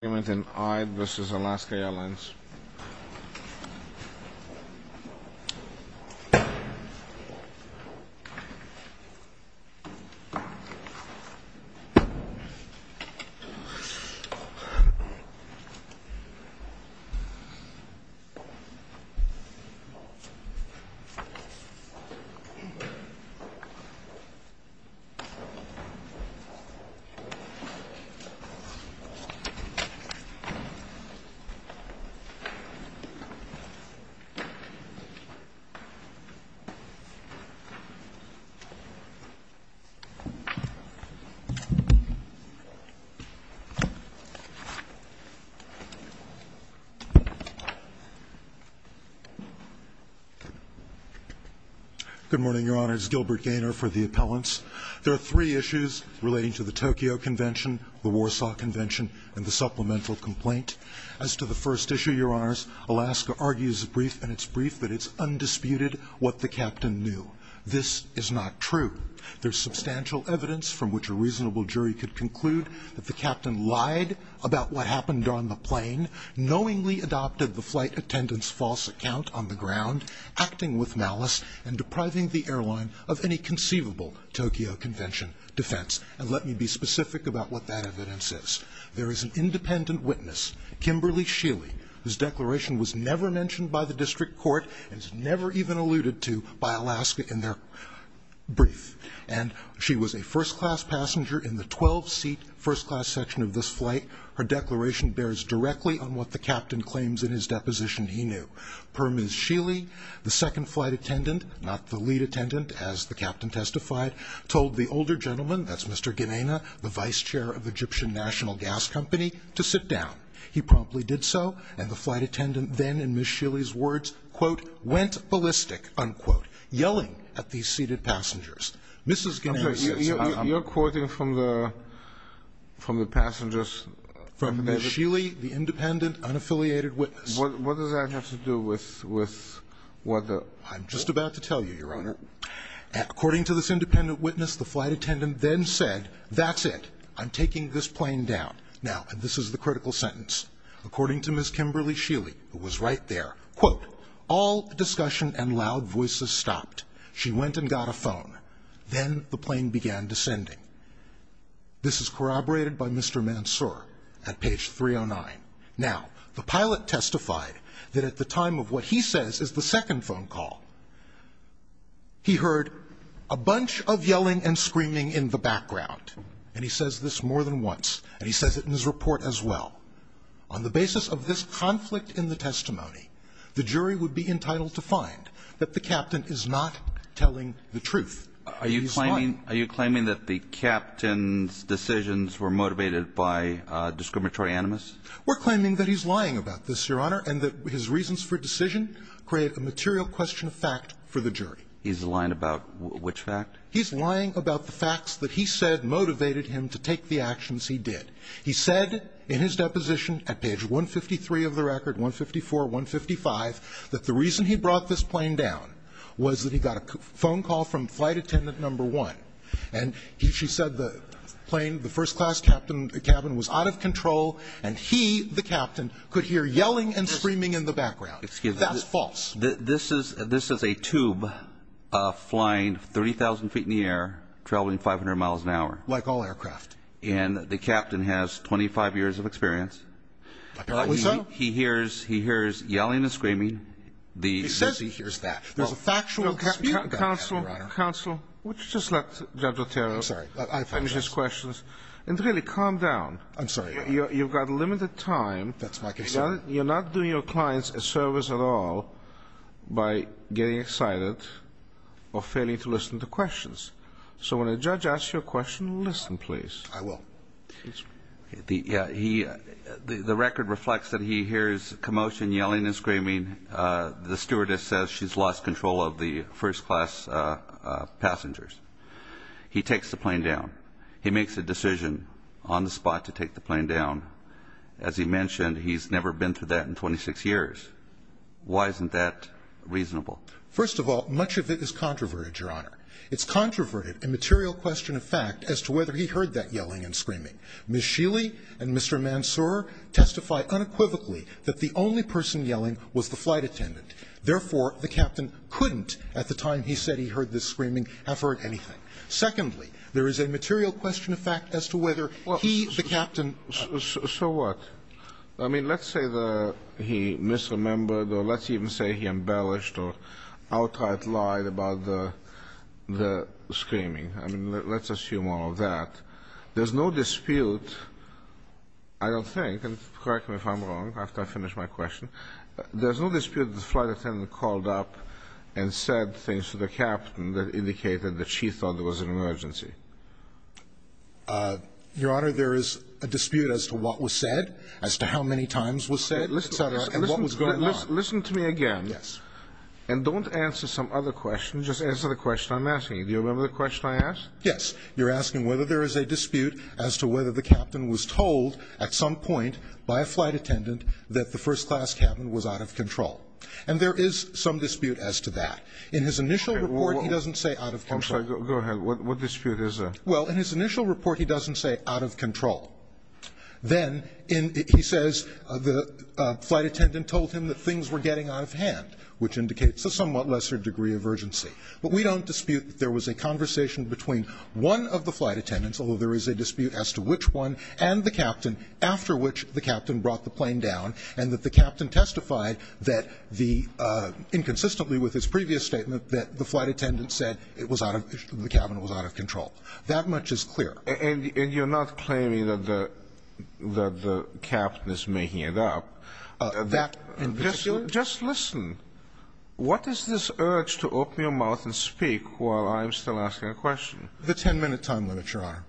Argument in Eid v. Alaska Airlines Good morning, Your Honor. It's Gilbert Gaynor for the appellants. There are three issues relating to the Tokyo Convention, the Warsaw Convention, and the supplemental complaint. As to the first issue, Your Honors, Alaska argues in its brief that it's undisputed what the captain knew. This is not true. There's substantial evidence from which a reasonable jury could conclude that the captain lied about what happened on the plane, knowingly adopted the flight attendant's false account on the ground, acting with malice, and depriving the airline of any conceivable Tokyo Convention defense. And let me be specific about what that evidence is. There is an independent witness, Kimberly Shealy, whose declaration was never mentioned by the district court and was never even alluded to by Alaska in their brief. And she was a first-class passenger in the 12-seat first-class section of this flight. Her declaration bears directly on what the captain claims in his deposition he knew. Per Ms. Shealy, the second flight attendant, not the lead attendant, as the captain testified, told the older gentleman, that's Mr. Gaynor, the vice chair of Egyptian National Gas Company, to sit down. He promptly did so, and the flight attendant then, in Ms. Shealy's words, quote, went ballistic, unquote, yelling at these seated passengers. Mrs. Gaynor says- You're quoting from the passenger's- From Ms. Shealy, the independent, unaffiliated witness. What does that have to do with what the- I'm just about to tell you, Your Honor. According to this independent witness, the flight attendant then said, that's it. I'm taking this plane down. Now, and this is the critical sentence. According to Ms. Kimberly Shealy, who was right there, quote, all discussion and loud voices stopped. She went and got a phone. Then the plane began descending. This is corroborated by Mr. Mansour at page 309. Now, the pilot testified that at the time of what he says is the second phone call, he heard a bunch of yelling and screaming in the background. And he says this more than once. And he says it in his report as well. On the basis of this conflict in the testimony, the jury would be entitled to find that the captain is not telling the truth. Are you claiming that the captain's decisions were motivated by discriminatory animus? We're claiming that he's lying about this, Your Honor, and that his reasons for decision create a material question of fact for the jury. He's lying about which fact? He's lying about the facts that he said motivated him to take the actions he did. He said in his deposition at page 153 of the record, 154, 155, that the reason he brought this up is that he was a flight attendant number one. And he said the plane, the first-class captain cabin was out of control, and he, the captain, could hear yelling and screaming in the background. That's false. This is a tube flying 30,000 feet in the air, traveling 500 miles an hour. Like all aircraft. And the captain has 25 years of experience. Apparently so. He hears yelling and screaming. He says he hears that. There's a factual dispute. Counsel, counsel, would you just let Judge Otero finish his questions and really calm down? I'm sorry, Your Honor. You've got limited time. That's my concern. You're not doing your clients a service at all by getting excited or failing to listen to questions. So when a judge asks you a question, listen, please. I will. The record reflects that he hears commotion, yelling and screaming. The stewardess says she's lost control of the first-class passengers. He takes the plane down. He makes a decision on the spot to take the plane down. As he mentioned, he's never been through that in 26 years. Why isn't that reasonable? First of all, much of it is controverted, Your Honor. It's controverted, a material question of fact, as to whether he heard that yelling and screaming. Ms. Shealy and Mr. Mansour testify unequivocally that the only person yelling was the flight attendant. Therefore, the captain couldn't, at the time he said he heard the screaming, have heard anything. Secondly, there is a material question of fact as to whether he, the captain ---- So what? I mean, let's say the he misremembered or let's even say he embellished or outright lied about the screaming. I mean, let's assume all of that. There's no dispute, I don't think, and correct me if I'm wrong after I finish my question, there's no dispute that the flight attendant called up and said things to the captain that indicated that she thought there was an emergency. Your Honor, there is a dispute as to what was said, as to how many times was said, et cetera, and what was going on. Listen to me again. Yes. And don't answer some other question. Just answer the question I'm asking you. Do you remember the question I asked? Yes. You're asking whether there is a dispute as to whether the captain was told at some point by a flight attendant that the first-class cabin was out of control. And there is some dispute as to that. In his initial report, he doesn't say out of control. Go ahead. What dispute is that? Well, in his initial report, he doesn't say out of control. Then he says the flight attendant told him that things were getting out of hand, which indicates a somewhat lesser degree of urgency. But we don't dispute that there was a conversation between one of the flight attendants, although there is a dispute as to which one, and the captain, after which the captain brought the plane down, and that the captain testified that the — inconsistently with his previous statement, that the flight attendant said it was out of — the cabin was out of control. That much is clear. And you're not claiming that the — that the captain is making it up? That, in particular? Just listen. The 10-minute time limit, Your Honor.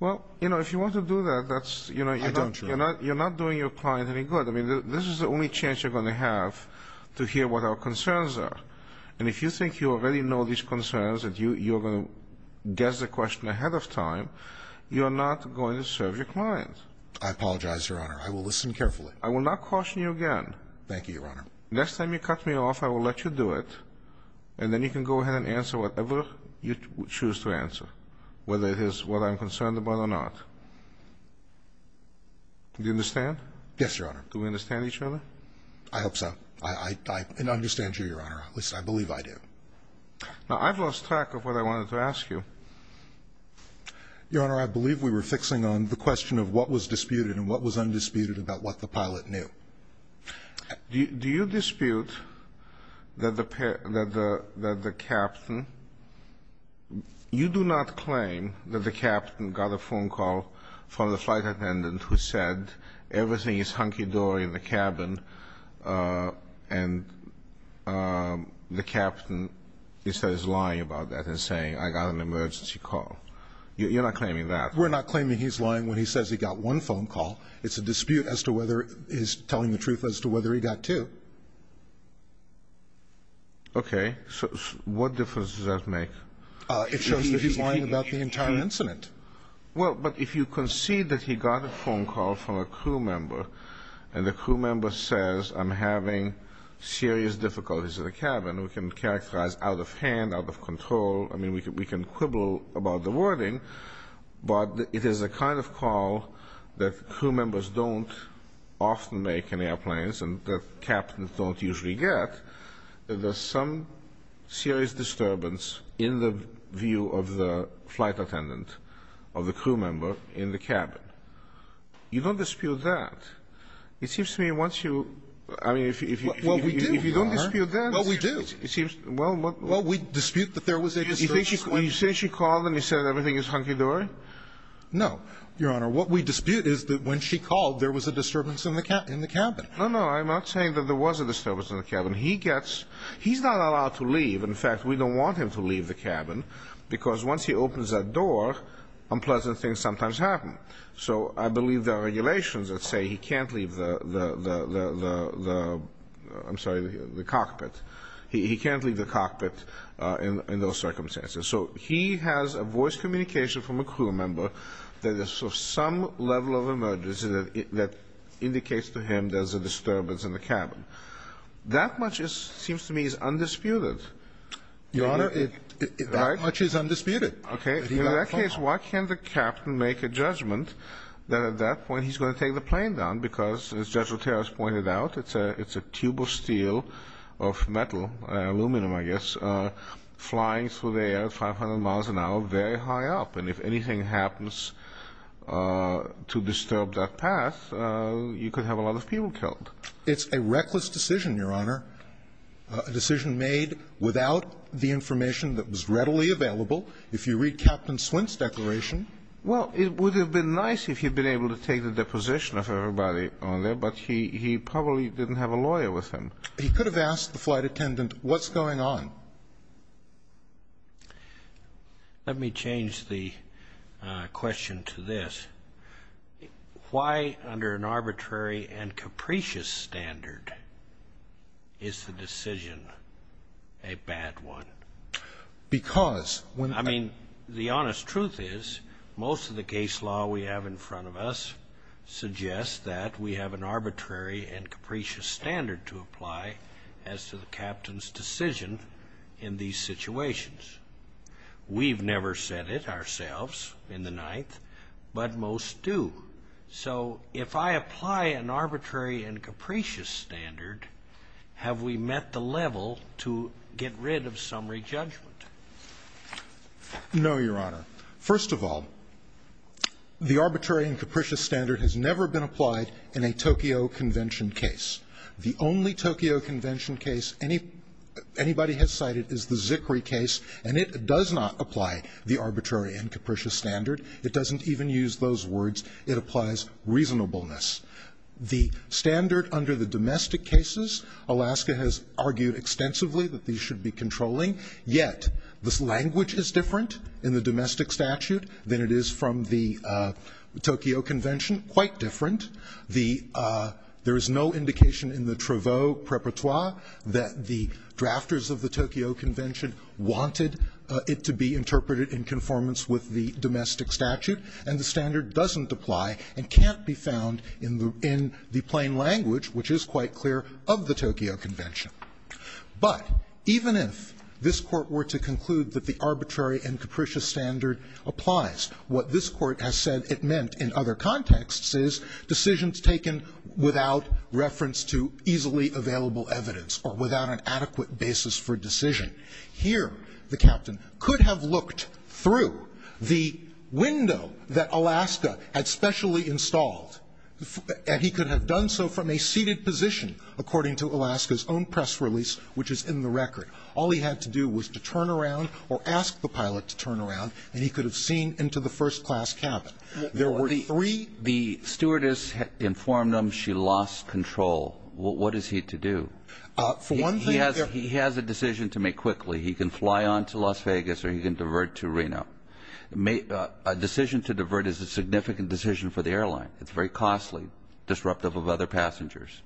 Well, you know, if you want to do that, that's — I don't, Your Honor. You're not doing your client any good. I mean, this is the only chance you're going to have to hear what our concerns are. And if you think you already know these concerns and you're going to guess the question ahead of time, you're not going to serve your client. I apologize, Your Honor. I will listen carefully. I will not caution you again. Thank you, Your Honor. Next time you cut me off, I will let you do it. And then you can go ahead and answer whatever you choose to answer, whether it is what I'm concerned about or not. Do you understand? Yes, Your Honor. Do we understand each other? I hope so. I understand you, Your Honor. At least, I believe I do. Now, I've lost track of what I wanted to ask you. Your Honor, I believe we were fixing on the question of what was disputed and what was undisputed about what the pilot knew. Do you dispute that the captain – you do not claim that the captain got a phone call from the flight attendant who said, everything is hunky-dory in the cabin, and the captain is lying about that and saying, I got an emergency call. You're not claiming that. We're not claiming he's lying when he says he got one phone call. It's a dispute as to whether he's telling the truth as to whether he got two. Okay. So, what difference does that make? It shows that he's lying about the entire incident. Well, but if you concede that he got a phone call from a crew member, and the crew member says, I'm having serious difficulties in the cabin, we can characterize out of hand, out of control. I mean, we can quibble about the wording, but it is a kind of call that crew members don't often make in airplanes and that captains don't usually get. There's some serious disturbance in the view of the flight attendant, of the crew member in the cabin. You don't dispute that. It seems to me once you – I mean, if you – Well, we do, Your Honor. If you don't dispute that – Well, we do. It seems – well, what – Well, we dispute that there was a disturbance. Do you think she – do you think she called and he said everything is hunky-dory? No, Your Honor. What we dispute is that when she called, there was a disturbance in the – in the cabin. No, no. I'm not saying that there was a disturbance in the cabin. He gets – he's not allowed to leave. In fact, we don't want him to leave the cabin because once he opens that door, unpleasant things sometimes happen. So I believe there are regulations that say he can't leave the – the – I'm sorry, the cockpit. He can't leave the cockpit in – in those circumstances. So he has a voice communication from a crew member that there's some level of emergency that indicates to him there's a disturbance in the cabin. That much is – seems to me is undisputed. Your Honor, it – Right? That much is undisputed. Okay. In that case, why can't the captain make a judgment that at that point he's going to take the plane down because, as Judge Roteros pointed out, it's a – it's a tube of metal, aluminum, I guess, flying through the air at 500 miles an hour, very high up. And if anything happens to disturb that path, you could have a lot of people killed. It's a reckless decision, Your Honor, a decision made without the information that was readily available. If you read Captain Swint's declaration – Well, it would have been nice if he'd been able to take the deposition of everybody on there, but he – he probably didn't have a lawyer with him. He could have asked the flight attendant, what's going on? Let me change the question to this. Why under an arbitrary and capricious standard is the decision a bad one? Because when – I mean, the honest truth is most of the case law we have in front of us suggests that we have an arbitrary and capricious standard to apply as to the captain's decision in these situations. We've never said it ourselves in the Ninth, but most do. So if I apply an arbitrary and capricious standard, have we met the level to get rid of summary judgment? No, Your Honor. First of all, the arbitrary and capricious standard has never been applied in a Tokyo convention case. The only Tokyo convention case anybody has cited is the Zickrey case, and it does not apply the arbitrary and capricious standard. It doesn't even use those words. It applies reasonableness. The standard under the domestic cases, Alaska has argued extensively that these Yet, this language is different in the domestic statute than it is from the Tokyo convention, quite different. The – there is no indication in the Traveau Preparatoire that the drafters of the Tokyo convention wanted it to be interpreted in conformance with the domestic statute, and the standard doesn't apply and can't be found in the plain language, which is quite clear of the Tokyo convention. But even if this Court were to conclude that the arbitrary and capricious standard applies, what this Court has said it meant in other contexts is decisions taken without reference to easily available evidence or without an adequate basis for decision. Here, the captain could have looked through the window that Alaska had specially installed, and he could have done so from a seated position, according to Alaska's own press release, which is in the record. All he had to do was to turn around or ask the pilot to turn around, and he could have seen into the first-class cabin. There were three – The – the stewardess informed him she lost control. What is he to do? For one thing – He has – he has a decision to make quickly. He can fly on to Las Vegas or he can divert to Reno. A decision to divert is a significant decision for the airline. It's very costly, disruptive of other passengers.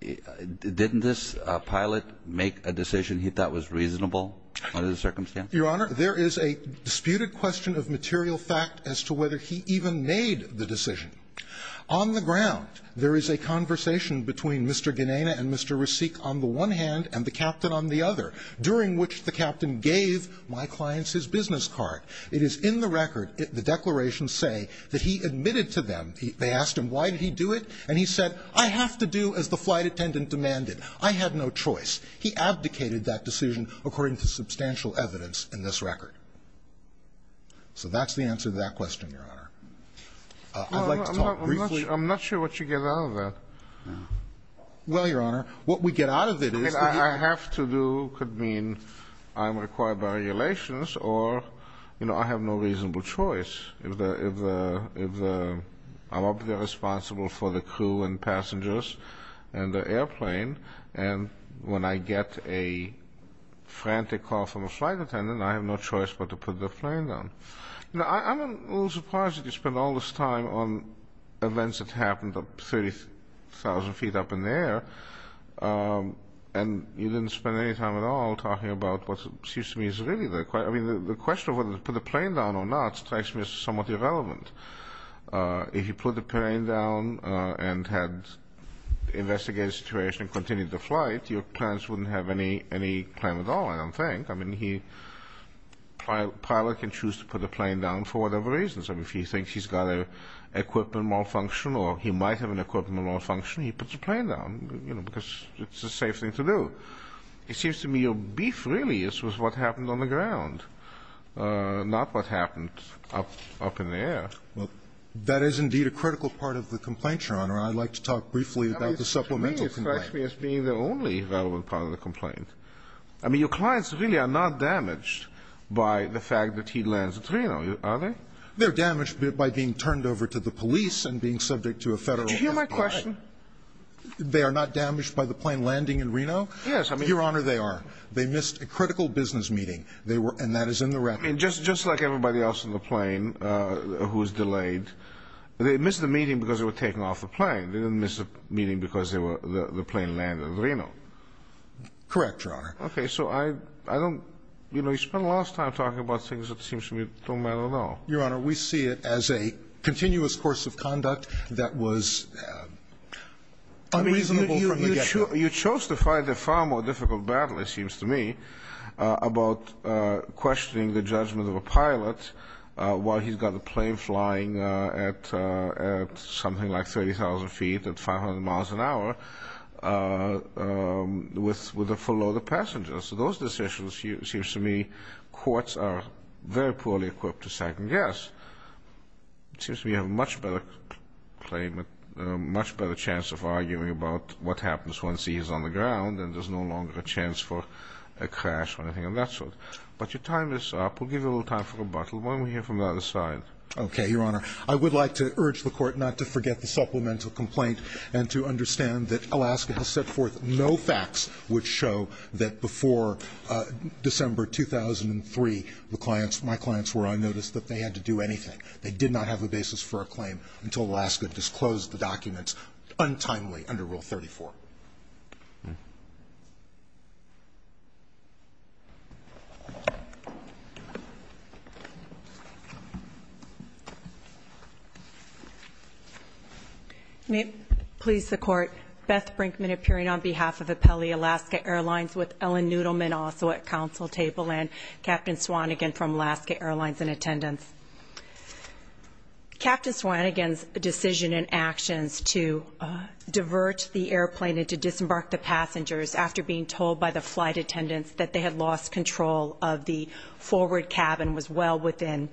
Didn't this pilot make a decision he thought was reasonable under the circumstances? Your Honor, there is a disputed question of material fact as to whether he even made the decision. On the ground, there is a conversation between Mr. Gennana and Mr. Rasik on the one hand and the captain on the other, during which the captain gave my clients his business card. It is in the record, the declarations say, that he admitted to them. They asked him why did he do it, and he said, I have to do as the flight attendant demanded. I had no choice. He abdicated that decision according to substantial evidence in this record. So that's the answer to that question, Your Honor. I'd like to talk briefly – I'm not sure what you get out of that. Well, Your Honor, what we get out of it is – I have to do could mean I'm required by regulations or, you know, I have no reasonable choice. If the – I'm obviously responsible for the crew and passengers and the airplane, and when I get a frantic call from a flight attendant, I have no choice but to put the plane down. I'm a little surprised that you spent all this time on events that happened 30,000 feet up in the air, and you didn't spend any time at all talking about what seems to me is really the – I mean, the question of whether to put the plane down or not strikes me as somewhat irrelevant. If you put the plane down and had investigated the situation and continued the flight, your plans wouldn't have any claim at all, I don't think. I mean, he – a pilot can choose to put the plane down for whatever reasons. I mean, if he thinks he's got an equipment malfunction or he might have an equipment malfunction, he puts the plane down, you know, because it's a safe thing to do. It seems to me your beef really is with what happened on the ground, not what happened up in the air. Well, that is indeed a critical part of the complaint, Your Honor. I'd like to talk briefly about the supplemental complaint. I mean, to me, it strikes me as being the only relevant part of the complaint. I mean, your clients really are not damaged by the fact that he lands at Reno, are they? They're damaged by being turned over to the police and being subject to a federal – Do you hear my question? They are not damaged by the plane landing in Reno? Yes, I mean – Your Honor, they are. They missed a critical business meeting. They were – and that is in the record. Just like everybody else on the plane who was delayed, they missed the meeting because they were taking off the plane. They didn't miss the meeting because the plane landed in Reno. Correct, Your Honor. Okay, so I don't – you know, you spent a lot of time talking about things that seems to me don't matter at all. Your Honor, we see it as a continuous course of conduct that was unreasonable from the get-go. You chose to fight a far more difficult battle, it seems to me, about questioning the judgment of a pilot while he's got a plane flying at something like 30,000 feet at 500 miles an hour with a full load of passengers. So those decisions, it seems to me, courts are very poorly equipped to second guess. It seems to me you have a much better claim – a much better chance of arguing about what happens once he is on the ground and there's no longer a chance for a crash or anything of that sort. But you're tying this up. We'll give you a little time for rebuttal. Why don't we hear from the other side? Okay, Your Honor. I would like to urge the Court not to forget the supplemental complaint and to understand that Alaska has set forth no facts which show that before December 2003, the clients – my clients were on notice that they had to do anything. They did not have a basis for a claim until Alaska disclosed the documents untimely under Rule 34. May it please the Court. Beth Brinkman appearing on behalf of Apelli Alaska Airlines with Ellen Nudelman also at counsel table and Captain Swanigan from Alaska Airlines in attendance. Captain Swanigan's decision and actions to divert the airplane and to disembark the forward cabin was well within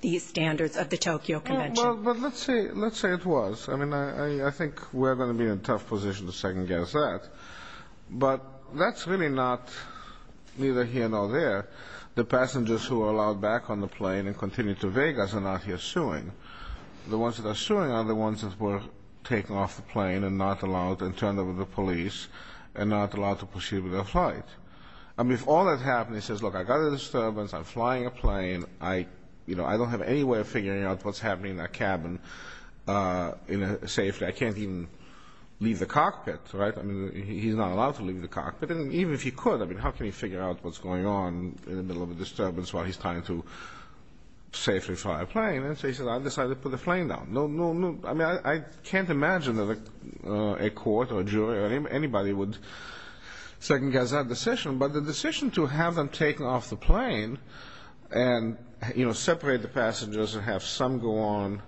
the standards of the Tokyo Convention. Well, but let's say it was. I mean, I think we're going to be in a tough position to second-guess that. But that's really not neither here nor there. The passengers who are allowed back on the plane and continue to Vegas are not here suing. The ones that are suing are the ones that were taken off the plane and not allowed and turned over to police and not allowed to proceed with their flight. I mean, if all that happened, he says, look, I got a disturbance. I'm flying a plane. I, you know, I don't have any way of figuring out what's happening in that cabin in a safe way. I can't even leave the cockpit, right? I mean, he's not allowed to leave the cockpit. And even if he could, I mean, how can he figure out what's going on in the middle of a disturbance while he's trying to safely fly a plane? And so he said, I decided to put the plane down. No, no, no. I mean, I can't imagine that a court or a jury or anybody would second-guess that decision. But the decision to have them taken off the plane and, you know, separate the passengers and have some go on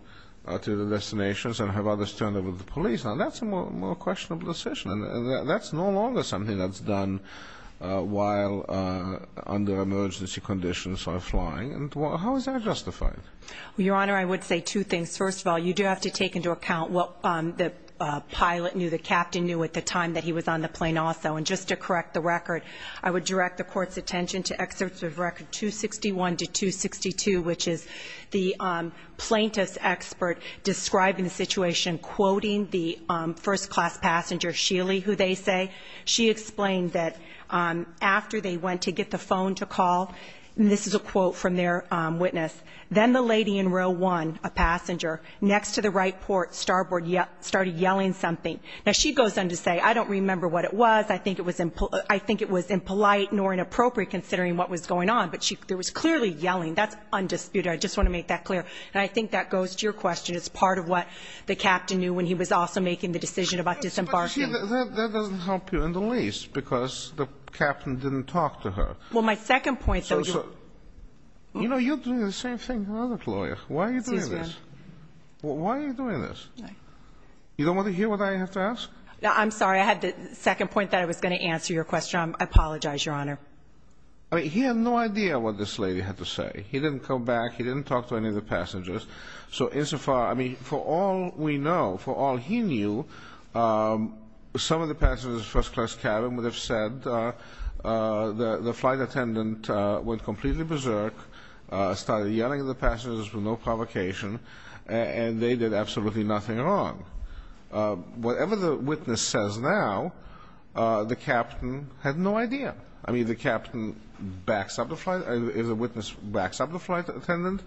to the destinations and have others turned over to the police, now that's a more questionable decision. And that's no longer something that's done while under emergency conditions or flying. And how is that justified? Well, Your Honor, I would say two things. First of all, you do have to take into account what the pilot knew, the captain knew at the time that he was on the plane also. And just to correct the record, I would direct the court's attention to excerpts of record 261 to 262, which is the plaintiff's expert describing the situation, quoting the first class passenger, Sheely, who they say, she explained that after they went to get the phone to call, and this is a quote from their witness, then the lady in row one, a passenger, next to the right port starboard, started yelling something. Now, she goes on to say, I don't remember what it was. I think it was I think it was impolite nor inappropriate considering what was going on. But there was clearly yelling. That's undisputed. I just want to make that clear. And I think that goes to your question as part of what the captain knew when he was also making the decision about disembarking. You see, that doesn't help you in the least because the captain didn't talk to her. Well, my second point. You know, you're doing the same thing. Why are you doing this? Why are you doing this? You don't want to hear what I have to ask? I'm sorry. I had the second point that I was going to answer your question. I apologize, Your Honor. I mean, he had no idea what this lady had to say. He didn't come back. He didn't talk to any of the passengers. So insofar, I mean, for all we know, for all he knew, some of the passengers first class cabin would have said the flight attendant went completely berserk, started yelling at passengers with no provocation, and they did absolutely nothing wrong. Whatever the witness says now, the captain had no idea. I mean, if the witness backs up the flight attendant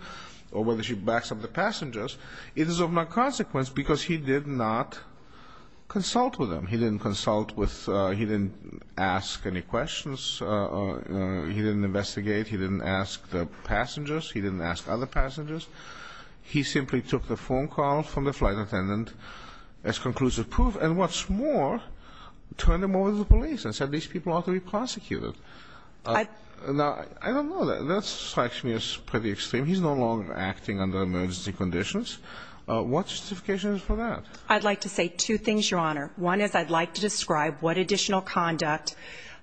or whether she backs up the passengers, it is of no consequence because he did not consult with them. He didn't consult with, he didn't ask any questions. He didn't ask the passengers. He didn't ask other passengers. He simply took the phone call from the flight attendant as conclusive proof. And what's more, turned him over to the police and said these people ought to be prosecuted. Now, I don't know. That strikes me as pretty extreme. He's no longer acting under emergency conditions. What justification is for that? I'd like to say two things, Your Honor. One is I'd like to describe what additional conduct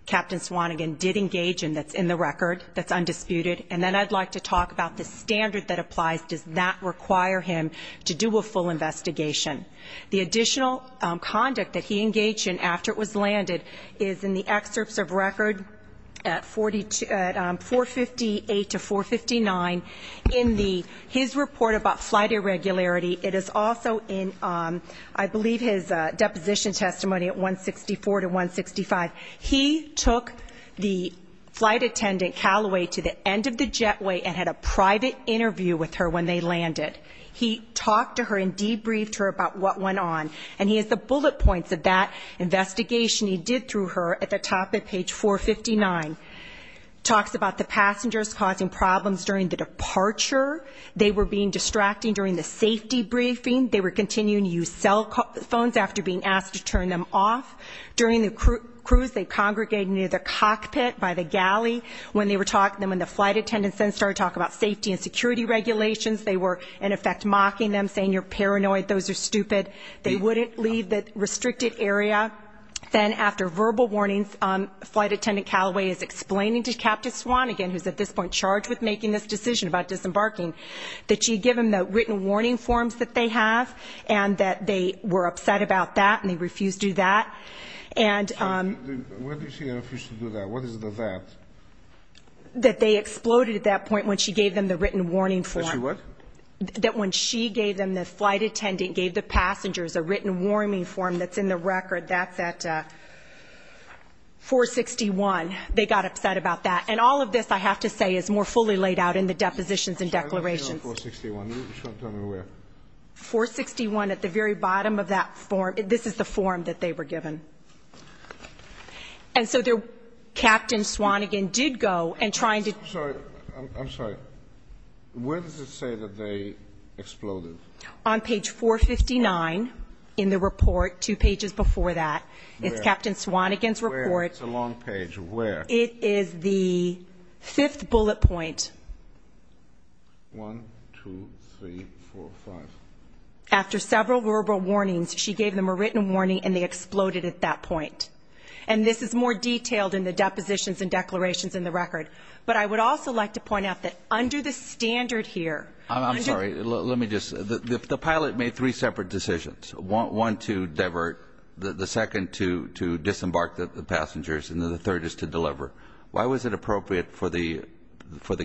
Captain Swannigan did engage in that's in the record, that's undisputed. And then I'd like to talk about the standard that applies. Does that require him to do a full investigation? The additional conduct that he engaged in after it was landed is in the excerpts of record at 458 to 459 in his report about flight irregularity. It is also in, I believe, his deposition testimony at 164 to 165. He took the flight attendant Callaway to the end of the jetway and had a private interview with her when they landed. He talked to her and debriefed her about what went on. And he has the bullet points of that investigation he did through her at the top of page 459. Talks about the passengers causing problems during the departure. They were being distracting during the safety briefing. They were continuing to use cell phones after being asked to turn them off. During the cruise, they congregated near the cockpit by the galley. When they were talking, when the flight attendants then started talking about safety and security regulations, they were, in effect, mocking them, saying you're paranoid, those are stupid. They wouldn't leave the restricted area. Then after verbal warnings, flight attendant Callaway is explaining to Captain Swannigan, who's at this point charged with making this decision about disembarking, that she'd give him the written warning forms that they have and that they were upset about that and they refused to do that. Where did she refuse to do that? What is the that? That they exploded at that point when she gave them the written warning form. That she what? That when she gave them, the flight attendant gave the passengers a written warning form that's in the record. That's at 461. They got upset about that. And all of this, I have to say, is more fully laid out in the depositions and declarations. I don't see it on 461. Show it to me where. 461 at the very bottom of that form. This is the form that they were given. And so there Captain Swannigan did go and trying to. Sorry, I'm sorry. Where does it say that they exploded? On page 459 in the report, two pages before that. It's Captain Swannigan's report. It's a long page. Where? It is the fifth bullet point. One, two, three, four, five. After several verbal warnings, she gave them a written warning and they exploded at that point. And this is more detailed in the depositions and declarations in the record. But I would also like to point out that under the standard here. I'm sorry, let me just. The pilot made three separate decisions. One to divert, the second to disembark the passengers and the third is to deliver. Why was it appropriate for the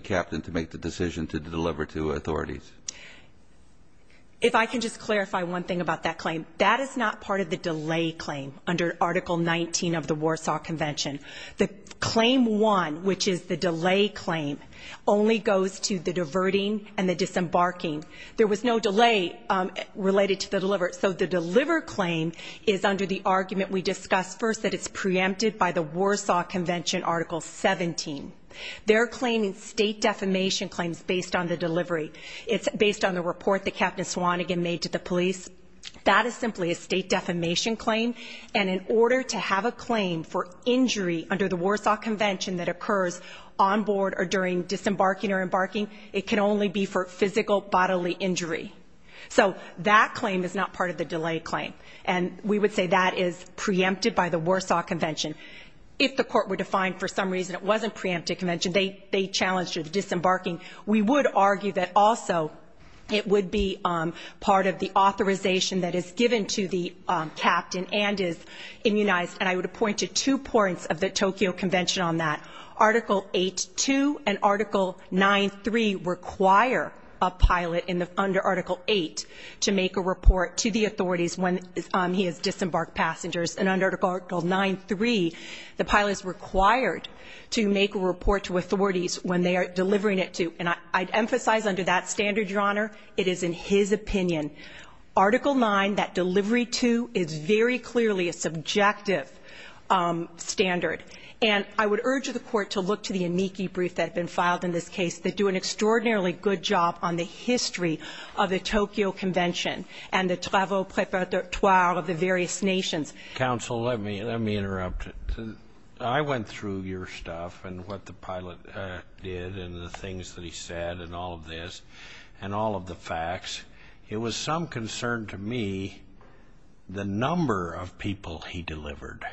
captain to make the decision to deliver to authorities? If I can just clarify one thing about that claim. That is not part of the delay claim under Article 19 of the Warsaw Convention. The claim one, which is the delay claim, only goes to the diverting and the disembarking. There was no delay related to the deliver. So the deliver claim is under the argument we discussed first that it's preempted by the Warsaw Convention, Article 17. They're claiming state defamation claims based on the delivery. It's based on the report that Captain Swanigan made to the police. That is simply a state defamation claim. And in order to have a claim for injury under the Warsaw Convention that occurs on board or during disembarking or embarking, it can only be for physical bodily injury. So that claim is not part of the delay claim. And we would say that is preempted by the Warsaw Convention. If the court were to find for some reason it wasn't preempted convention, they challenged the disembarking. We would argue that also it would be part of the authorization that is given to the captain and is immunized. And I would point to two points of the Tokyo Convention on that. Article 8.2 and Article 9.3 require a pilot under Article 8 to make a report to the authorities when he has disembarked passengers. And under Article 9.3, the pilot is required to make a report to authorities when they are delivering it to. And I'd emphasize under that standard, Your Honor, it is in his opinion. Article 9, that delivery to is very clearly a subjective standard. And I would urge the court to look to the amici brief that have been filed in this case that do an extraordinarily good job on the history of the Tokyo Convention and the travel preparatory of the various nations. Counsel, let me interrupt. I went through your stuff and what the pilot did and the things that he said and all of this and all of the facts. It was some concern to me the number of people he delivered.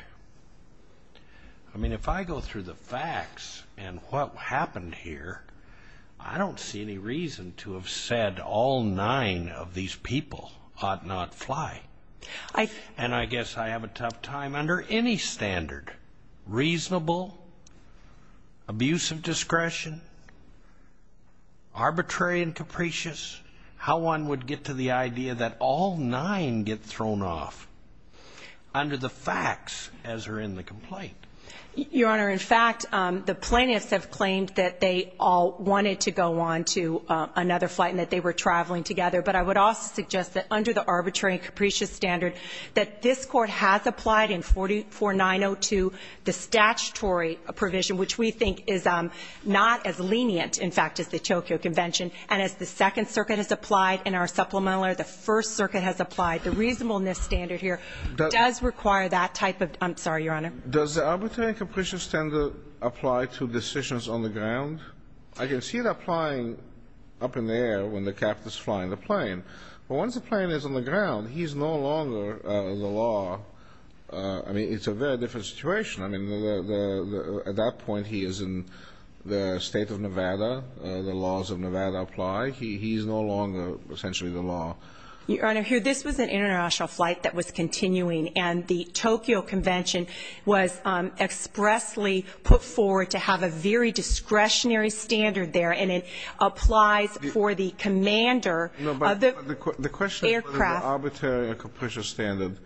I mean, if I go through the facts and what happened here, I don't see any reason to have said all nine of these people ought not fly. I and I guess I have a tough time under any standard reasonable. Abusive discretion. Arbitrary and capricious, how one would get to the idea that all nine get thrown off under the facts as are in the complaint. Your Honor, in fact, the plaintiffs have claimed that they all wanted to go on to another flight and that they were traveling together. But I would also suggest that under the arbitrary and capricious standard that this court has applied in 4490 to the statutory provision, which we think is not as lenient, in fact, as the Tokyo Convention. And as the Second Circuit has applied in our supplemental or the First Circuit has applied, the reasonableness standard here does require that type of. I'm sorry, Your Honor. Does the arbitrary and capricious standard apply to decisions on the ground? I can see it applying up in the air when the captain's flying the plane. But once the plane is on the ground, he's no longer the law. I mean, it's a very different situation. I mean, at that point, he is in the state of Nevada. The laws of Nevada apply. He's no longer essentially the law. Your Honor, this was an international flight that was continuing. And the Tokyo Convention was expressly put forward to have a very discretionary standard there. And it applies for the commander of the aircraft. No, but the question of whether the arbitrary and capricious standard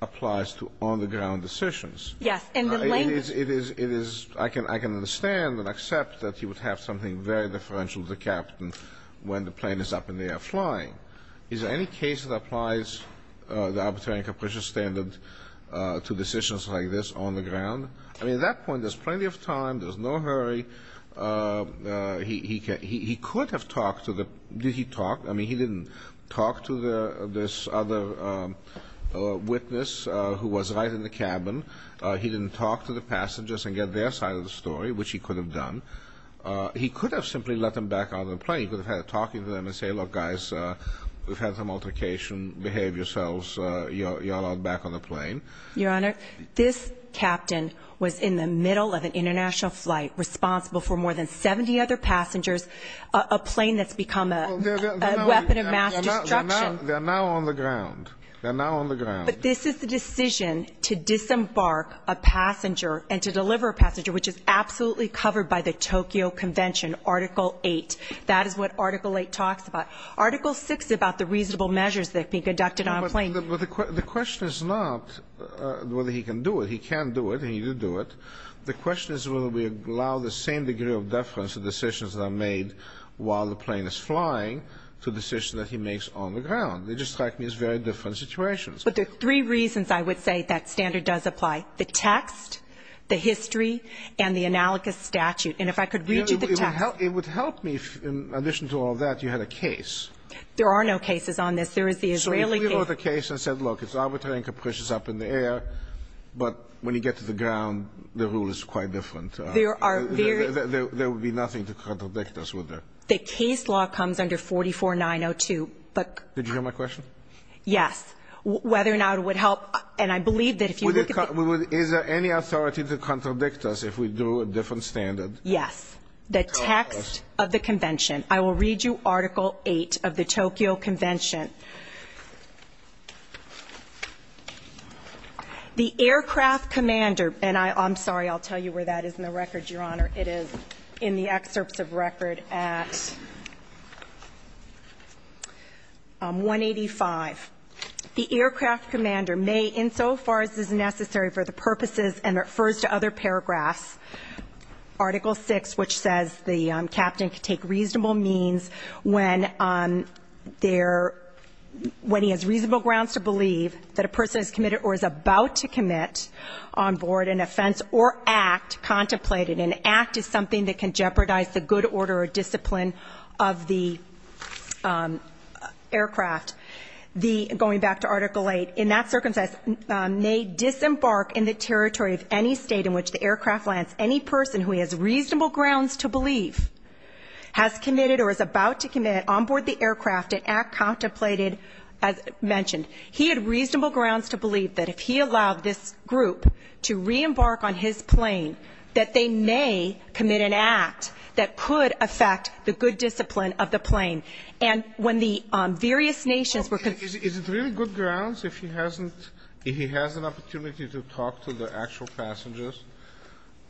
applies to on-the-ground decisions. Yes. And the language... It is... I can understand and accept that you would have something very differential to the captain when the plane is up in the air flying. Is there any case that applies the arbitrary and capricious standard to decisions like this on the ground? I mean, at that point, there's plenty of time. There's no hurry. He could have talked to the... Did he talk? I mean, he didn't talk to this other witness who was right in the cabin. He didn't talk to the passengers and get their side of the story, which he could have done. He could have simply let them back out of the plane. He could have had a talk with them and say, look, guys, we've had some altercation. Behave yourselves. You're allowed back on the plane. Your Honor, this captain was in the middle of an international flight responsible for more than 70 other passengers, a plane that's become a weapon of mass destruction. They're now on the ground. They're now on the ground. But this is the decision to disembark a passenger and to deliver a passenger, which is absolutely covered by the Tokyo Convention, Article 8. That is what Article 8 talks about. Article 6 is about the reasonable measures that can be conducted on a plane. But the question is not whether he can do it. He can do it. And he did do it. The question is whether we allow the same degree of deference to decisions that are made while the plane is flying to decisions that he makes on the ground. They just strike me as very different situations. But there are three reasons I would say that standard does apply. The text, the history, and the analogous statute. And if I could read you the text... It would help me if, in addition to all that, you had a case. There are no cases on this. There is the Israeli case. So if we wrote a case and said, look, it's arbitrary and capricious up in the air. But when you get to the ground, the rule is quite different. There would be nothing to contradict us with that. The case law comes under 44-902. But... Did you hear my question? Yes. Whether or not it would help... And I believe that if you look at the... Is there any authority to contradict us if we do a different standard? Yes. The text of the convention. I will read you Article 8 of the Tokyo Convention. The aircraft commander... And I'm sorry, I'll tell you where that is in the records, Your Honor. It is in the excerpts of record at... 185. The aircraft commander may, insofar as is necessary for the purposes... And it refers to other paragraphs. Article 6, which says the captain could take reasonable means when he has reasonable grounds to believe that a person has committed or is about to commit on board an offense or act contemplated. An act is something that can jeopardize the good order or discipline of the aircraft. Going back to Article 8. In that circumstance, may disembark in the territory of any state in which the aircraft lands. Any person who has reasonable grounds to believe has committed or is about to commit on board the aircraft and act contemplated, as mentioned. He had reasonable grounds to believe that if he allowed this group to re-embark on his plane, that they may commit an act that could affect the good discipline of the plane. And when the various nations were... Is it really good grounds if he hasn't... If he has an opportunity to talk to the actual passengers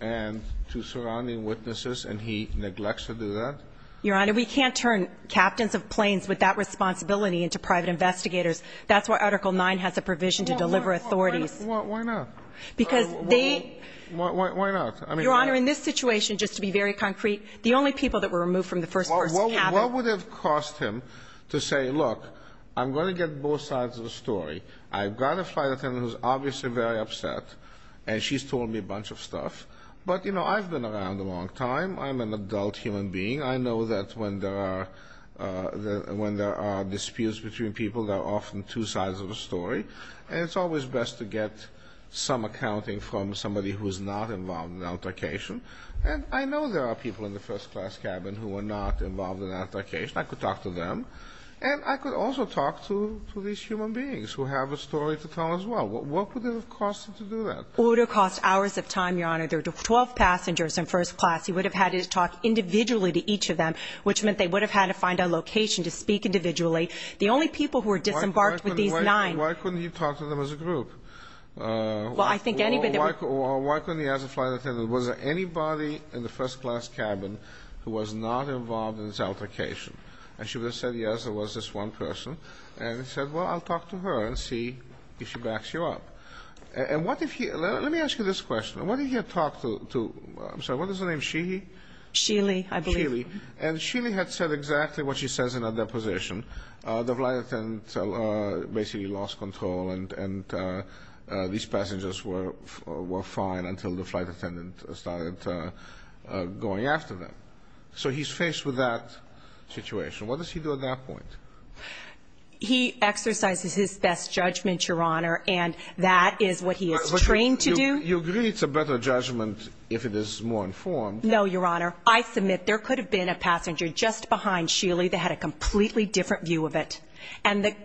and to surrounding witnesses and he neglects to do that? Your Honor, we can't turn captains of planes with that responsibility into private investigators. That's why Article 9 has a provision to deliver authorities. Why not? Because they... Why not? Your Honor, in this situation, just to be very concrete, the only people that were removed from the first person cabin... Both sides of the story. I've got a flight attendant who's obviously very upset, and she's told me a bunch of stuff. But, you know, I've been around a long time. I'm an adult human being. I know that when there are disputes between people, there are often two sides of the story. And it's always best to get some accounting from somebody who is not involved in altercation. And I know there are people in the first class cabin who are not involved in altercation. I could talk to them. And I could also talk to these human beings who have a story to tell as well. What would it have cost to do that? It would have cost hours of time, Your Honor. There were 12 passengers in first class. He would have had to talk individually to each of them, which meant they would have had to find a location to speak individually. The only people who were disembarked with these nine... Why couldn't he talk to them as a group? Well, I think anybody... Or why couldn't he ask the flight attendant, was there anybody in the first class cabin who was not involved in this altercation? And she would have said, yes, there was this one person. And he said, well, I'll talk to her and see if she backs you up. And what if he... Let me ask you this question. What if he had talked to... I'm sorry, what is the name? Sheehy? Sheely, I believe. Sheely. And Sheely had said exactly what she says in her deposition. The flight attendant basically lost control and these passengers were fine until the flight attendant started going after them. So he's faced with that situation. What does he do at that point? He exercises his best judgment, Your Honor, and that is what he is trained to do. You agree it's a better judgment if it is more informed? No, Your Honor. I submit there could have been a passenger just behind Sheely that had a completely different view of it. And the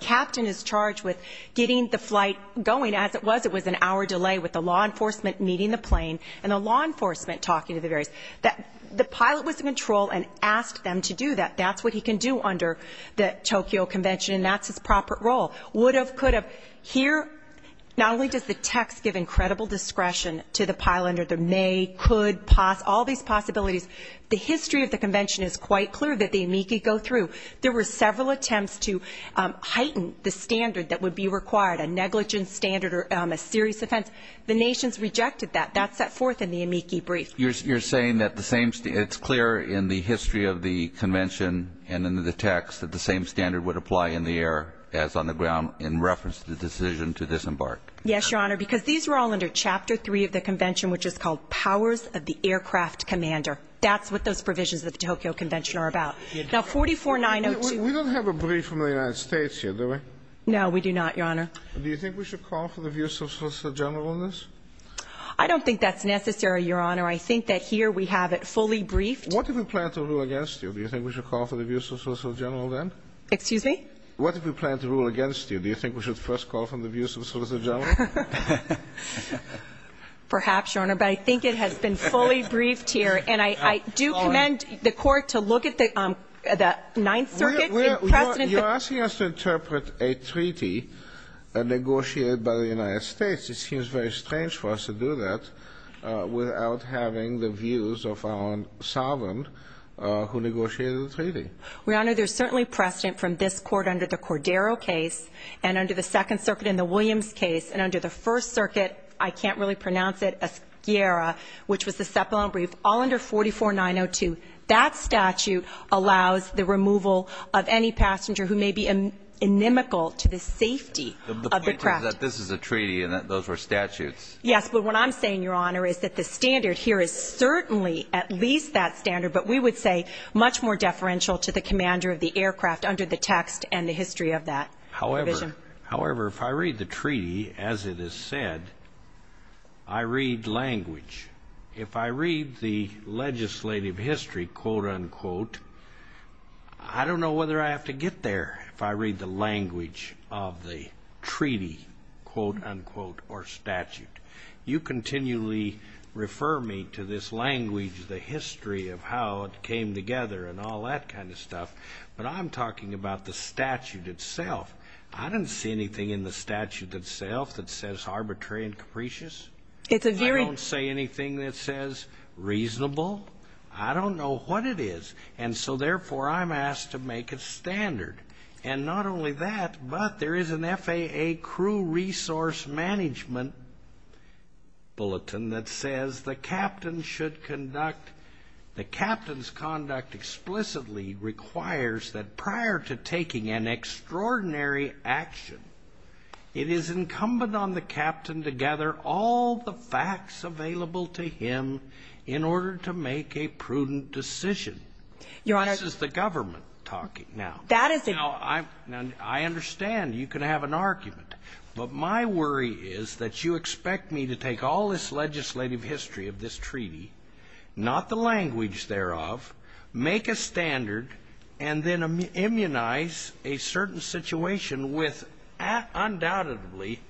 captain is charged with getting the flight going as it was. It was an hour delay with the law enforcement meeting the plane and the law enforcement talking to the various... The pilot was in control and asked them to do that. That's what he can do under the Tokyo Convention. And that's his proper role. Would have, could have. Here, not only does the text give incredible discretion to the pilot under the may, could, poss... All these possibilities. The history of the convention is quite clear that the amici go through. There were several attempts to heighten the standard that would be required, a negligence standard or a serious offense. The nation's rejected that. That's set forth in the amici brief. You're saying that the same... It's clear in the history of the convention and in the text that the same standard would apply in the air as on the ground in reference to the decision to disembark. Yes, Your Honor, because these were all under Chapter 3 of the convention, which is called Powers of the Aircraft Commander. That's what those provisions of the Tokyo Convention are about. Now, 44902... We don't have a brief from the United States here, do we? No, we do not, Your Honor. Do you think we should call for the views of Solicitor General on this? I don't think that's necessary, Your Honor. I think that here we have it fully briefed. What if we plan to rule against you? Do you think we should call for the views of Solicitor General then? Excuse me? What if we plan to rule against you? Do you think we should first call for the views of Solicitor General? Perhaps, Your Honor, but I think it has been fully briefed here. And I do commend the Court to look at the Ninth Circuit's precedent... You're asking us to interpret a treaty negotiated by the United States. It seems very strange for us to do that without having the views of our sovereign who negotiated the treaty. Your Honor, there's certainly precedent from this Court under the Cordero case, and under the Second Circuit in the Williams case, and under the First Circuit, I can't really pronounce it, Ascara, which was the Cepulon brief, all under 44902. That statute allows the removal of any passenger who may be inimical to the safety of the craft. The point is that this is a treaty, and those were statutes. Yes, but what I'm saying, Your Honor, is that the standard here is certainly at least that standard, but we would say much more deferential to the commander of the aircraft under the text and the history of that provision. However, if I read the treaty as it is said, I read language. If I read the legislative history, quote-unquote, I don't know whether I have to get there if I read the language of the treaty, quote-unquote, or statute. You continually refer me to this language, the history of how it came together and all that kind of stuff, but I'm talking about the statute itself. I don't see anything in the statute itself that says arbitrary and capricious. I don't say anything that says reasonable. I don't know what it is. So, therefore, I'm asked to make a standard, and not only that, but there is an FAA crew resource management bulletin that says the captain's conduct explicitly requires that prior to taking an extraordinary action, it is incumbent on the captain to gather all the facts available to him in order to make a prudent decision. This is the government talking now. Now, I understand you can have an argument, but my worry is that you expect me to take all this legislative history of this treaty, not the language thereof, make a standard, and then immunize a certain situation with, undoubtedly,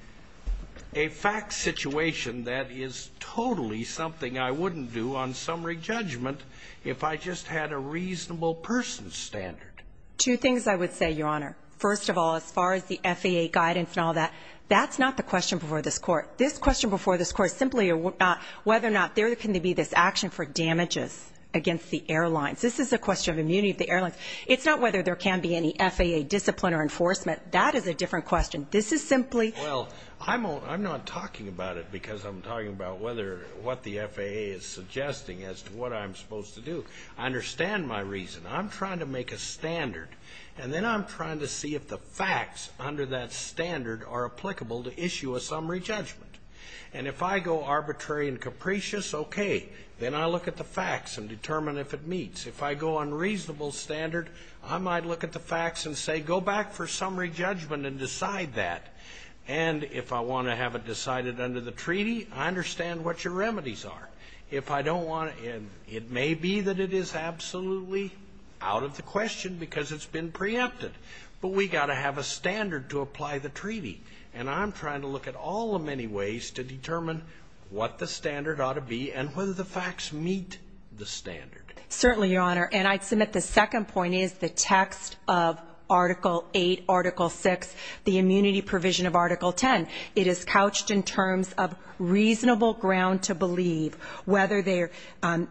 a fact situation that is totally something I wouldn't do on summary judgment if I just had a reasonable person's standard. Two things I would say, Your Honor. First of all, as far as the FAA guidance and all that, that's not the question before this court. This question before this court is simply whether or not there can be this action for damages against the airlines. This is a question of immunity of the airlines. It's not whether there can be any FAA discipline or enforcement. That is a different question. This is simply... Well, I'm not talking about it because I'm talking about what the FAA is suggesting as to what I'm supposed to do. I understand my reason. I'm trying to make a standard, and then I'm trying to see if the facts under that standard are applicable to issue a summary judgment. And if I go arbitrary and capricious, okay, then I look at the facts and determine if it meets. If I go unreasonable standard, I might look at the facts and say, go back for summary judgment and decide that. And if I want to have it decided under the treaty, I understand what your remedies are. If I don't want... And it may be that it is absolutely out of the question because it's been preempted, but we got to have a standard to apply the treaty. And I'm trying to look at all the many ways to determine what the standard ought to be and whether the facts meet the standard. Certainly, Your Honor. And I'd submit the second point is the text of Article 8, Article 6, the immunity provision of Article 10. It is couched in terms of reasonable ground to believe whether they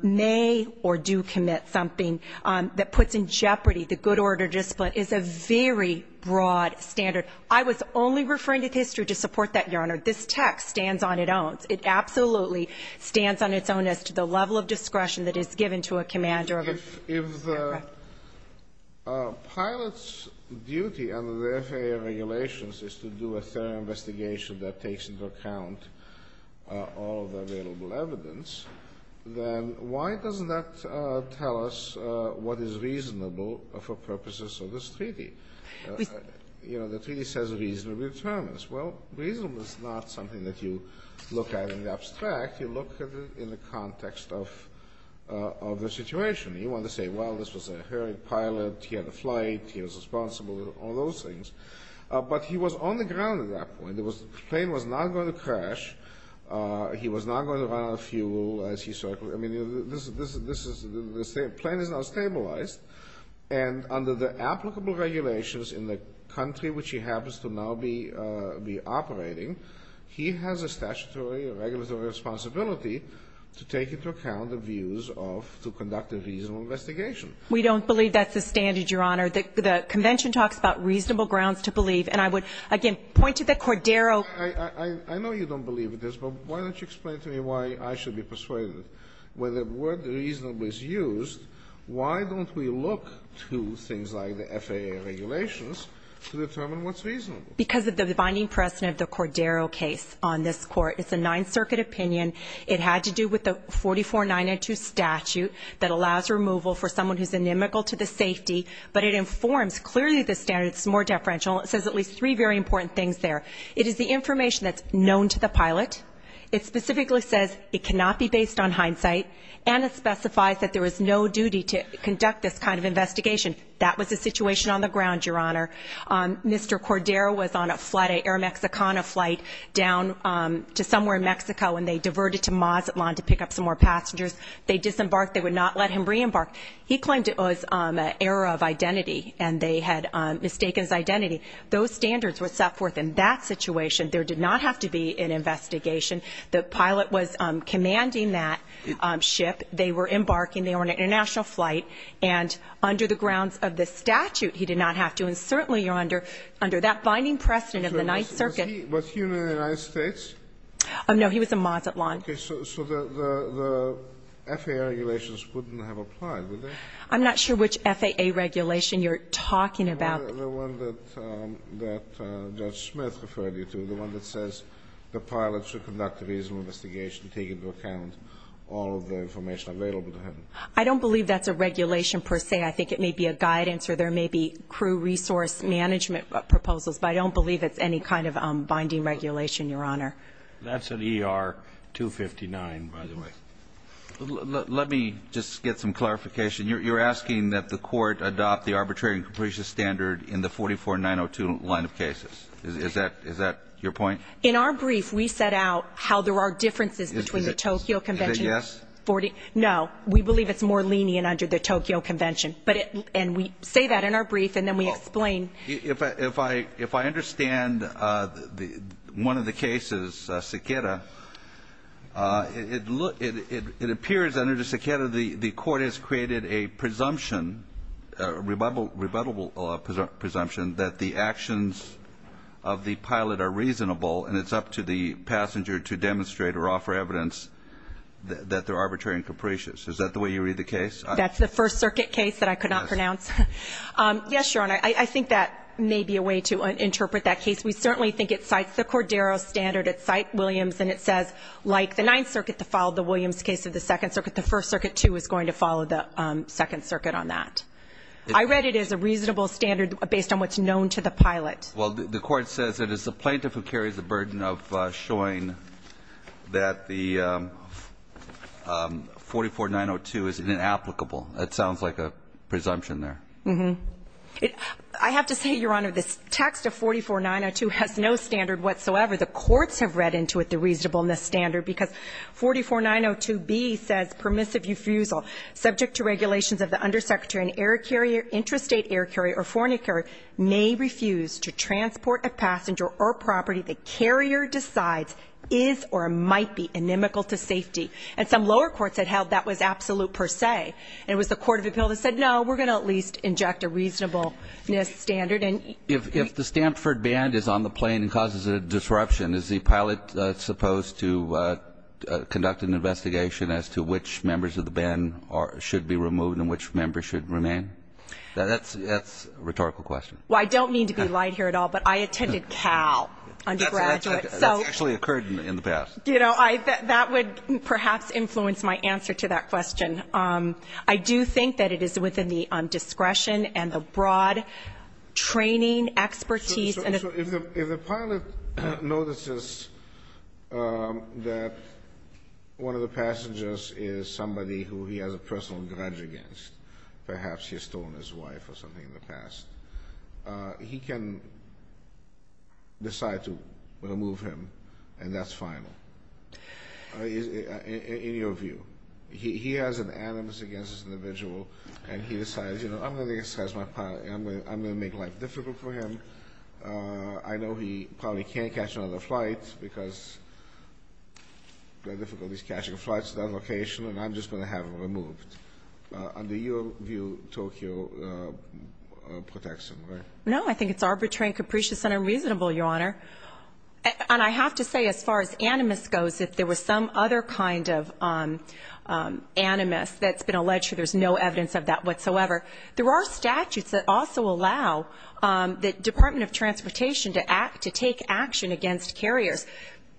may or do commit something that puts in jeopardy the good order discipline is a very broad standard. I was only referring to history to support that, Your Honor. This text stands on its own. It absolutely stands on its own as to the level of discretion that is given to a commander. If the pilot's duty under the FAA regulations is to do a thorough investigation that takes into account all of the available evidence, then why doesn't that tell us what is reasonable for purposes of this treaty? You know, the treaty says reasonable determinants. Well, reasonable is not something that you look at in the abstract. You look at it in the context of the situation. You want to say, well, this was a hurried pilot. He had a flight. He was responsible, all those things. But he was on the ground at that point. The plane was not going to crash. He was not going to run out of fuel as he circled. I mean, this is the plane is now stabilized. And under the applicable regulations in the country which he happens to now be operating, he has a statutory or regulatory responsibility to take into account the views of to conduct a reasonable investigation. We don't believe that's the standard, Your Honor. The Convention talks about reasonable grounds to believe. And I would, again, point to the Cordero. I know you don't believe this, but why don't you explain to me why I should be persuaded? When the word reasonable is used, why don't we look to things like the FAA regulations to determine what's reasonable? Because of the binding precedent of the Cordero case on this court. It's a Ninth Circuit opinion. It had to do with the 44-902 statute that allows removal for someone who's inimical to the safety. But it informs clearly the standard. It's more deferential. It says at least three very important things there. It is the information that's known to the pilot. It specifically says it cannot be based on hindsight. And it specifies that there is no duty to conduct this kind of investigation. That was the situation on the ground, Your Honor. Mr. Cordero was on a flight, an Air Mexicana flight down to somewhere in Mexico, and they diverted to Mazatlan to pick up some more passengers. They disembarked. They would not let him re-embark. He claimed it was an error of identity, and they had mistaken his identity. Those standards were set forth in that situation. There did not have to be an investigation. The pilot was commanding that ship. They were embarking. They were on an international flight. And under the grounds of the statute, he did not have to. And certainly, you're under that binding precedent of the Ninth Circuit. So was he in the United States? Oh, no. He was in Mazatlan. Okay. So the FAA regulations wouldn't have applied, would they? I'm not sure which FAA regulation you're talking about. The one that Judge Smith referred you to. The one that says the pilot should conduct a reasonable investigation, taking into account all of the information available to him. I don't believe that's a regulation, per se. I think it may be a guidance, or there may be crew resource management proposals. But I don't believe it's any kind of binding regulation, Your Honor. That's an ER-259, by the way. Let me just get some clarification. You're asking that the court adopt the arbitrary and capricious standard in the 44-902 line of cases. Is that your point? In our brief, we set out how there are differences between the Tokyo Convention. Is it yes? No. We believe it's more lenient under the Tokyo Convention. And we say that in our brief, and then we explain. If I understand one of the cases, Sekeda, it appears under the Sekeda, the court has created a presumption, a rebuttable presumption, that the actions of the pilot are reasonable, and it's up to the passenger to demonstrate or offer evidence that they're arbitrary and capricious. Is that the way you read the case? That's the First Circuit case that I could not pronounce. Yes, Your Honor. I think that may be a way to interpret that case. We certainly think it cites the Cordero standard. It cites Williams. And it says, like the Ninth Circuit that followed the Williams case of the Second Circuit, the First Circuit, too, is going to follow the Second Circuit on that. I read it as a reasonable standard based on what's known to the pilot. Well, the court says it is the plaintiff who carries the burden of showing that the 44-902 is inapplicable. That sounds like a presumption there. I have to say, Your Honor, this text of 44-902 has no standard whatsoever. The courts have read into it the reasonableness standard because 44-902B says permissive refusal subject to regulations of the undersecretary, an air carrier, interstate air carrier, or foreign air carrier may refuse to transport a passenger or property the carrier decides is or might be inimical to safety. And some lower courts had held that was absolute per se. And it was the Court of Appeal that said, no, we're going to at least inject a reasonableness standard. And if the Stanford band is on the plane and causes a disruption, is the pilot supposed to conduct an investigation as to which members of the band should be removed and which members should remain? That's a rhetorical question. Well, I don't mean to be light here at all, but I attended Cal undergraduate. That's actually occurred in the past. You know, that would perhaps influence my answer to that question. I do think that it is within the discretion and the broad training expertise. So if the pilot notices that one of the passengers is somebody who he has a personal grudge against, perhaps he has stolen his wife or something in the past, he can decide to remove him. And that's final. In your view, he has an animus against this individual. And he decides, you know, I'm going to make life difficult for him. I know he probably can't catch another flight because the difficulty is catching flights to that location. And I'm just going to have him removed. Under your view, Tokyo protection, right? No, I think it's arbitrary and capricious and unreasonable, Your Honor. And I have to say, as far as animus goes, if there was some other kind of animus that's been alleged, there's no evidence of that whatsoever. There are statutes that also allow the Department of Transportation to take action against carriers.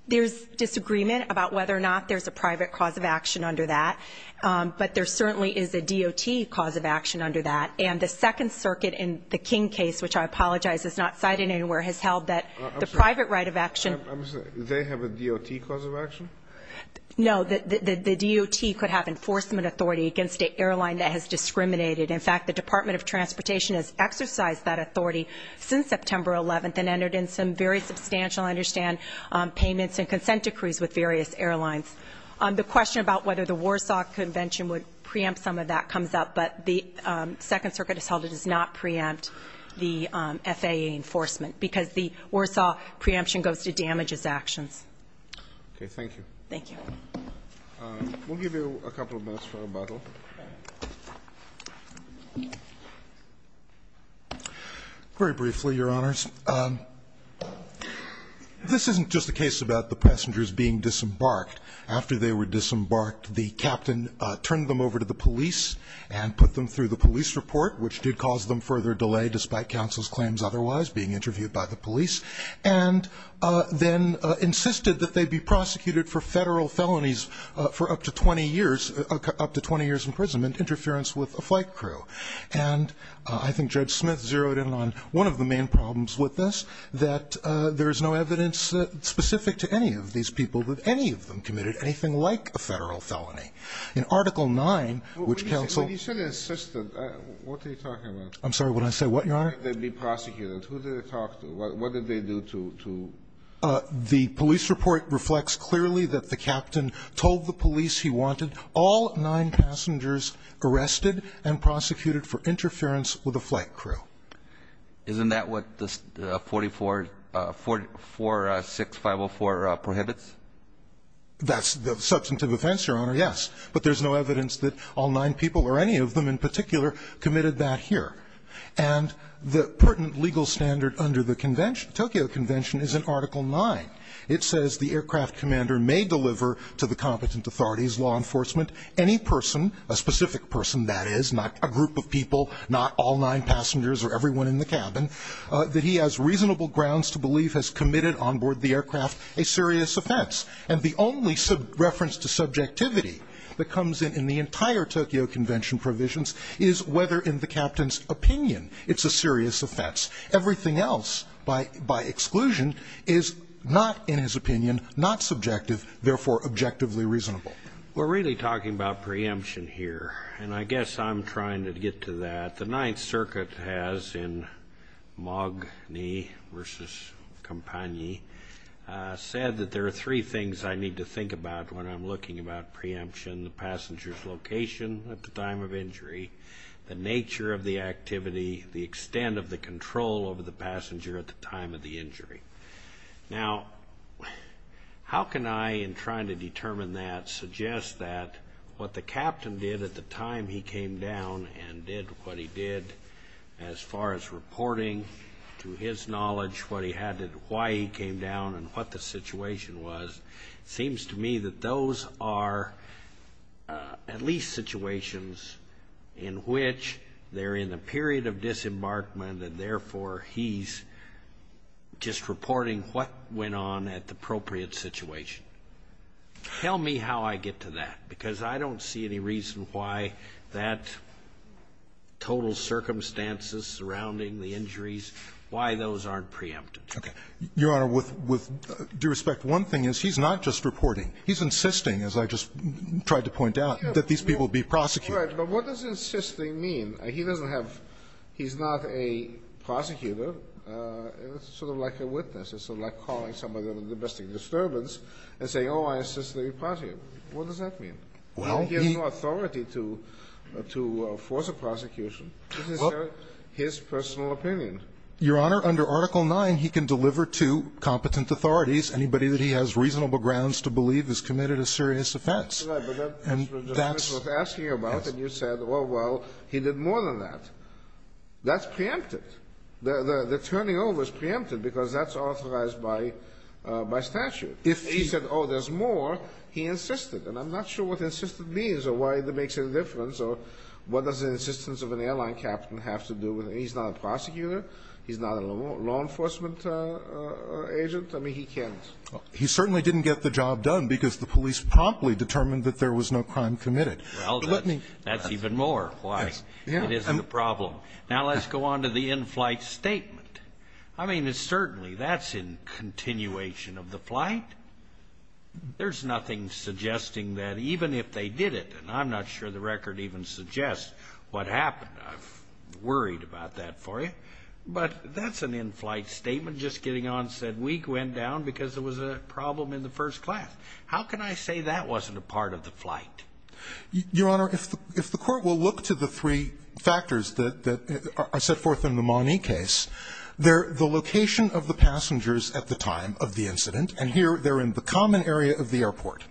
There's disagreement about whether or not there's a private cause of action under that. But there certainly is a D.O.T. cause of action under that. And the Second Circuit in the King case, which I apologize is not cited anywhere, has held that the private right of action. I'm sorry, do they have a D.O.T. cause of action? No, the D.O.T. could have enforcement authority against an airline that has discriminated. In fact, the Department of Transportation has exercised that authority since September 11th and entered in some very substantial, I understand, payments and consent decrees with various airlines. The question about whether the Warsaw Convention would preempt some of that comes up. But the Second Circuit has held it does not preempt the FAA enforcement because the Warsaw preemption goes to damages actions. Okay. Thank you. Thank you. We'll give you a couple of minutes for rebuttal. Very briefly, Your Honors. This isn't just a case about the passengers being disembarked. They were disembarked. The captain turned them over to the police and put them through the police report, which did cause them further delay despite counsel's claims otherwise being interviewed by the police and then insisted that they be prosecuted for federal felonies for up to 20 years, up to 20 years in prison and interference with a flight crew. And I think Judge Smith zeroed in on one of the main problems with this, that there is no evidence specific to any of these people with any of them committed anything like a federal felony. In Article 9, which counsel insisted. What are you talking about? I'm sorry, when I say what, Your Honor? They'd be prosecuted. Who did they talk to? What did they do to to? The police report reflects clearly that the captain told the police he wanted all nine passengers arrested and prosecuted for interference with a flight crew. Isn't that what the 44, 46504 prohibits? That's the substantive offense, Your Honor. Yes, but there's no evidence that all nine people or any of them in particular committed that here. And the pertinent legal standard under the convention, Tokyo Convention, is in Article 9. It says the aircraft commander may deliver to the competent authorities, law enforcement, any person, a specific person, that is not a group of people, not all nine passengers or everyone in the cabin, that he has reasonable grounds to believe has committed on board the aircraft a serious offense. And the only reference to subjectivity that comes in the entire Tokyo Convention provisions is whether in the captain's opinion it's a serious offense. Everything else by exclusion is not in his opinion, not subjective, therefore objectively reasonable. We're really talking about preemption here. And I guess I'm trying to get to that. The Ninth Circuit has, in Magni versus Compagni, said that there are three things I need to think about when I'm looking about preemption. The passenger's location at the time of injury, the nature of the activity, the extent of the control over the passenger at the time of the injury. Now, how can I, in trying to determine that, suggest that what the captain did at the time he came down and did what he did, as far as reporting to his knowledge what he had to do, why he came down and what the situation was, seems to me that those are at least situations in which they're in the period of disembarkment and therefore he's just reporting what went on at the appropriate situation. Tell me how I get to that, because I don't see any reason why that total circumstances surrounding the injuries, why those aren't preempted. Okay. Your Honor, with due respect, one thing is he's not just reporting. He's insisting, as I just tried to point out, that these people be prosecuted. Right. But what does insisting mean? He doesn't have he's not a prosecutor. It's sort of like a witness. It's sort of like calling somebody on a domestic disturbance. And saying, oh, I insist that you prosecute. What does that mean? He has no authority to force a prosecution. This is his personal opinion. Your Honor, under Article 9, he can deliver to competent authorities anybody that he has reasonable grounds to believe has committed a serious offense. That's right, but that's what the witness was asking about, and you said, oh, well, he did more than that. That's preempted. The turning over is preempted because that's authorized by statute. He said, oh, there's more. He insisted, and I'm not sure what insisted means or why that makes any difference or what does the insistence of an airline captain have to do with it. He's not a prosecutor. He's not a law enforcement agent. I mean, he can't. He certainly didn't get the job done because the police promptly determined that there was no crime committed. Well, that's even more why it isn't a problem. Now, let's go on to the in-flight statement. I mean, certainly that's in continuation of the flight. There's nothing suggesting that even if they did it, and I'm not sure the record even suggests what happened. I'm worried about that for you. But that's an in-flight statement just getting on said week went down because there was a problem in the first class. How can I say that wasn't a part of the flight? Your Honor, if the Court will look to the three factors that are set forth in the location of the passengers at the time of the incident, and here they're in the common area of the airport,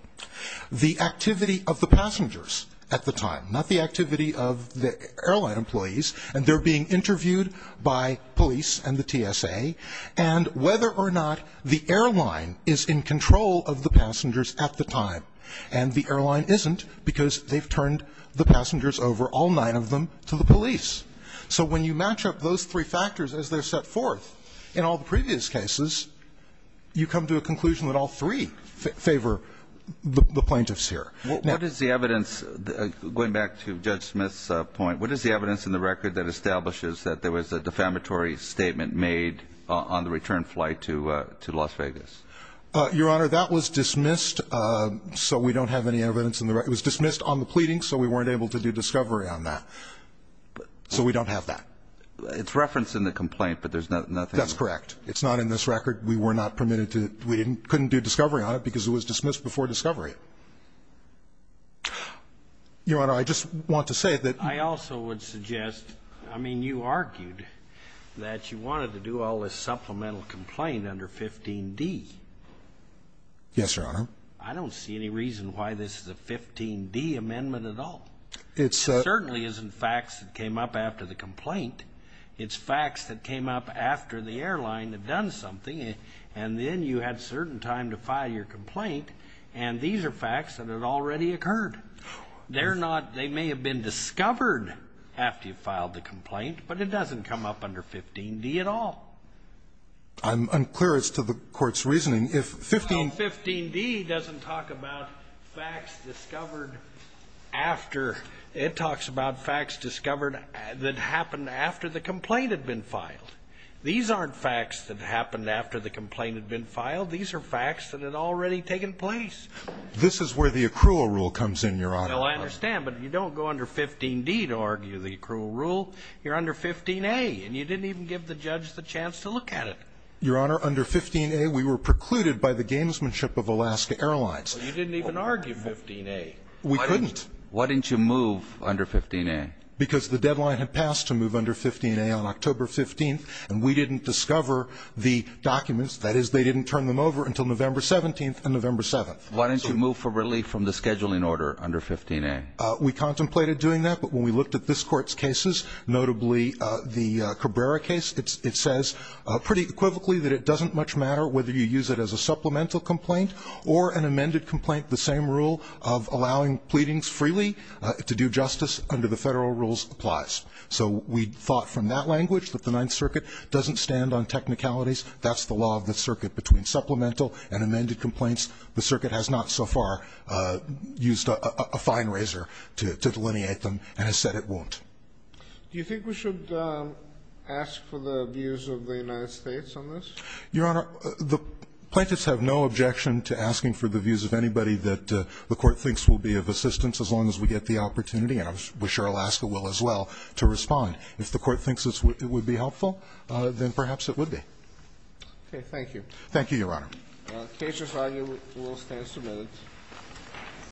the activity of the passengers at the time, not the activity of the airline employees, and they're being interviewed by police and the TSA, and whether or not the airline is in control of the passengers at the time. And the airline isn't because they've turned the passengers over, all nine of them, to the police. So when you match up those three factors as they're set forth in all the previous cases, you come to a conclusion that all three favor the plaintiffs here. What is the evidence, going back to Judge Smith's point, what is the evidence in the record that establishes that there was a defamatory statement made on the return flight to Las Vegas? Your Honor, that was dismissed, so we don't have any evidence in the record. It was dismissed on the pleading, so we weren't able to do discovery on that. So we don't have that. It's referenced in the complaint, but there's nothing. That's correct. It's not in this record. We were not permitted to, we couldn't do discovery on it because it was dismissed before discovery. Your Honor, I just want to say that. I also would suggest, I mean, you argued that you wanted to do all this supplemental complaint under 15D. Yes, Your Honor. I don't see any reason why this is a 15D amendment at all. It certainly isn't facts that came up after the complaint. It's facts that came up after the airline had done something, and then you had certain time to file your complaint, and these are facts that had already occurred. They're not, they may have been discovered after you filed the complaint, but it doesn't come up under 15D at all. I'm unclear as to the Court's reasoning. 15D doesn't talk about facts discovered after. It talks about facts discovered that happened after the complaint had been filed. These aren't facts that happened after the complaint had been filed. These are facts that had already taken place. This is where the accrual rule comes in, Your Honor. Well, I understand, but you don't go under 15D to argue the accrual rule. You're under 15A, and you didn't even give the judge the chance to look at it. Your Honor, under 15A, we were precluded by the gamesmanship of Alaska Airlines. You didn't even argue 15A. We couldn't. Why didn't you move under 15A? Because the deadline had passed to move under 15A on October 15th, and we didn't discover the documents. That is, they didn't turn them over until November 17th and November 7th. Why didn't you move for relief from the scheduling order under 15A? We contemplated doing that, but when we looked at this Court's cases, notably the Cabrera case, it says pretty equivocally that it doesn't much matter whether you use it as a supplemental complaint or an amended complaint. The same rule of allowing pleadings freely to do justice under the federal rules applies. So we thought from that language that the Ninth Circuit doesn't stand on technicalities. That's the law of the circuit. Between supplemental and amended complaints, the circuit has not so far used a fine razor to delineate them and has said it won't. Do you think we should ask for the views of the United States on this? Your Honor, the plaintiffs have no objection to asking for the views of anybody that the Court thinks will be of assistance as long as we get the opportunity, and I'm sure Alaska will as well, to respond. If the Court thinks it would be helpful, then perhaps it would be. Okay. Thank you. Thank you, Your Honor. The case is argued. The rule stands submitted.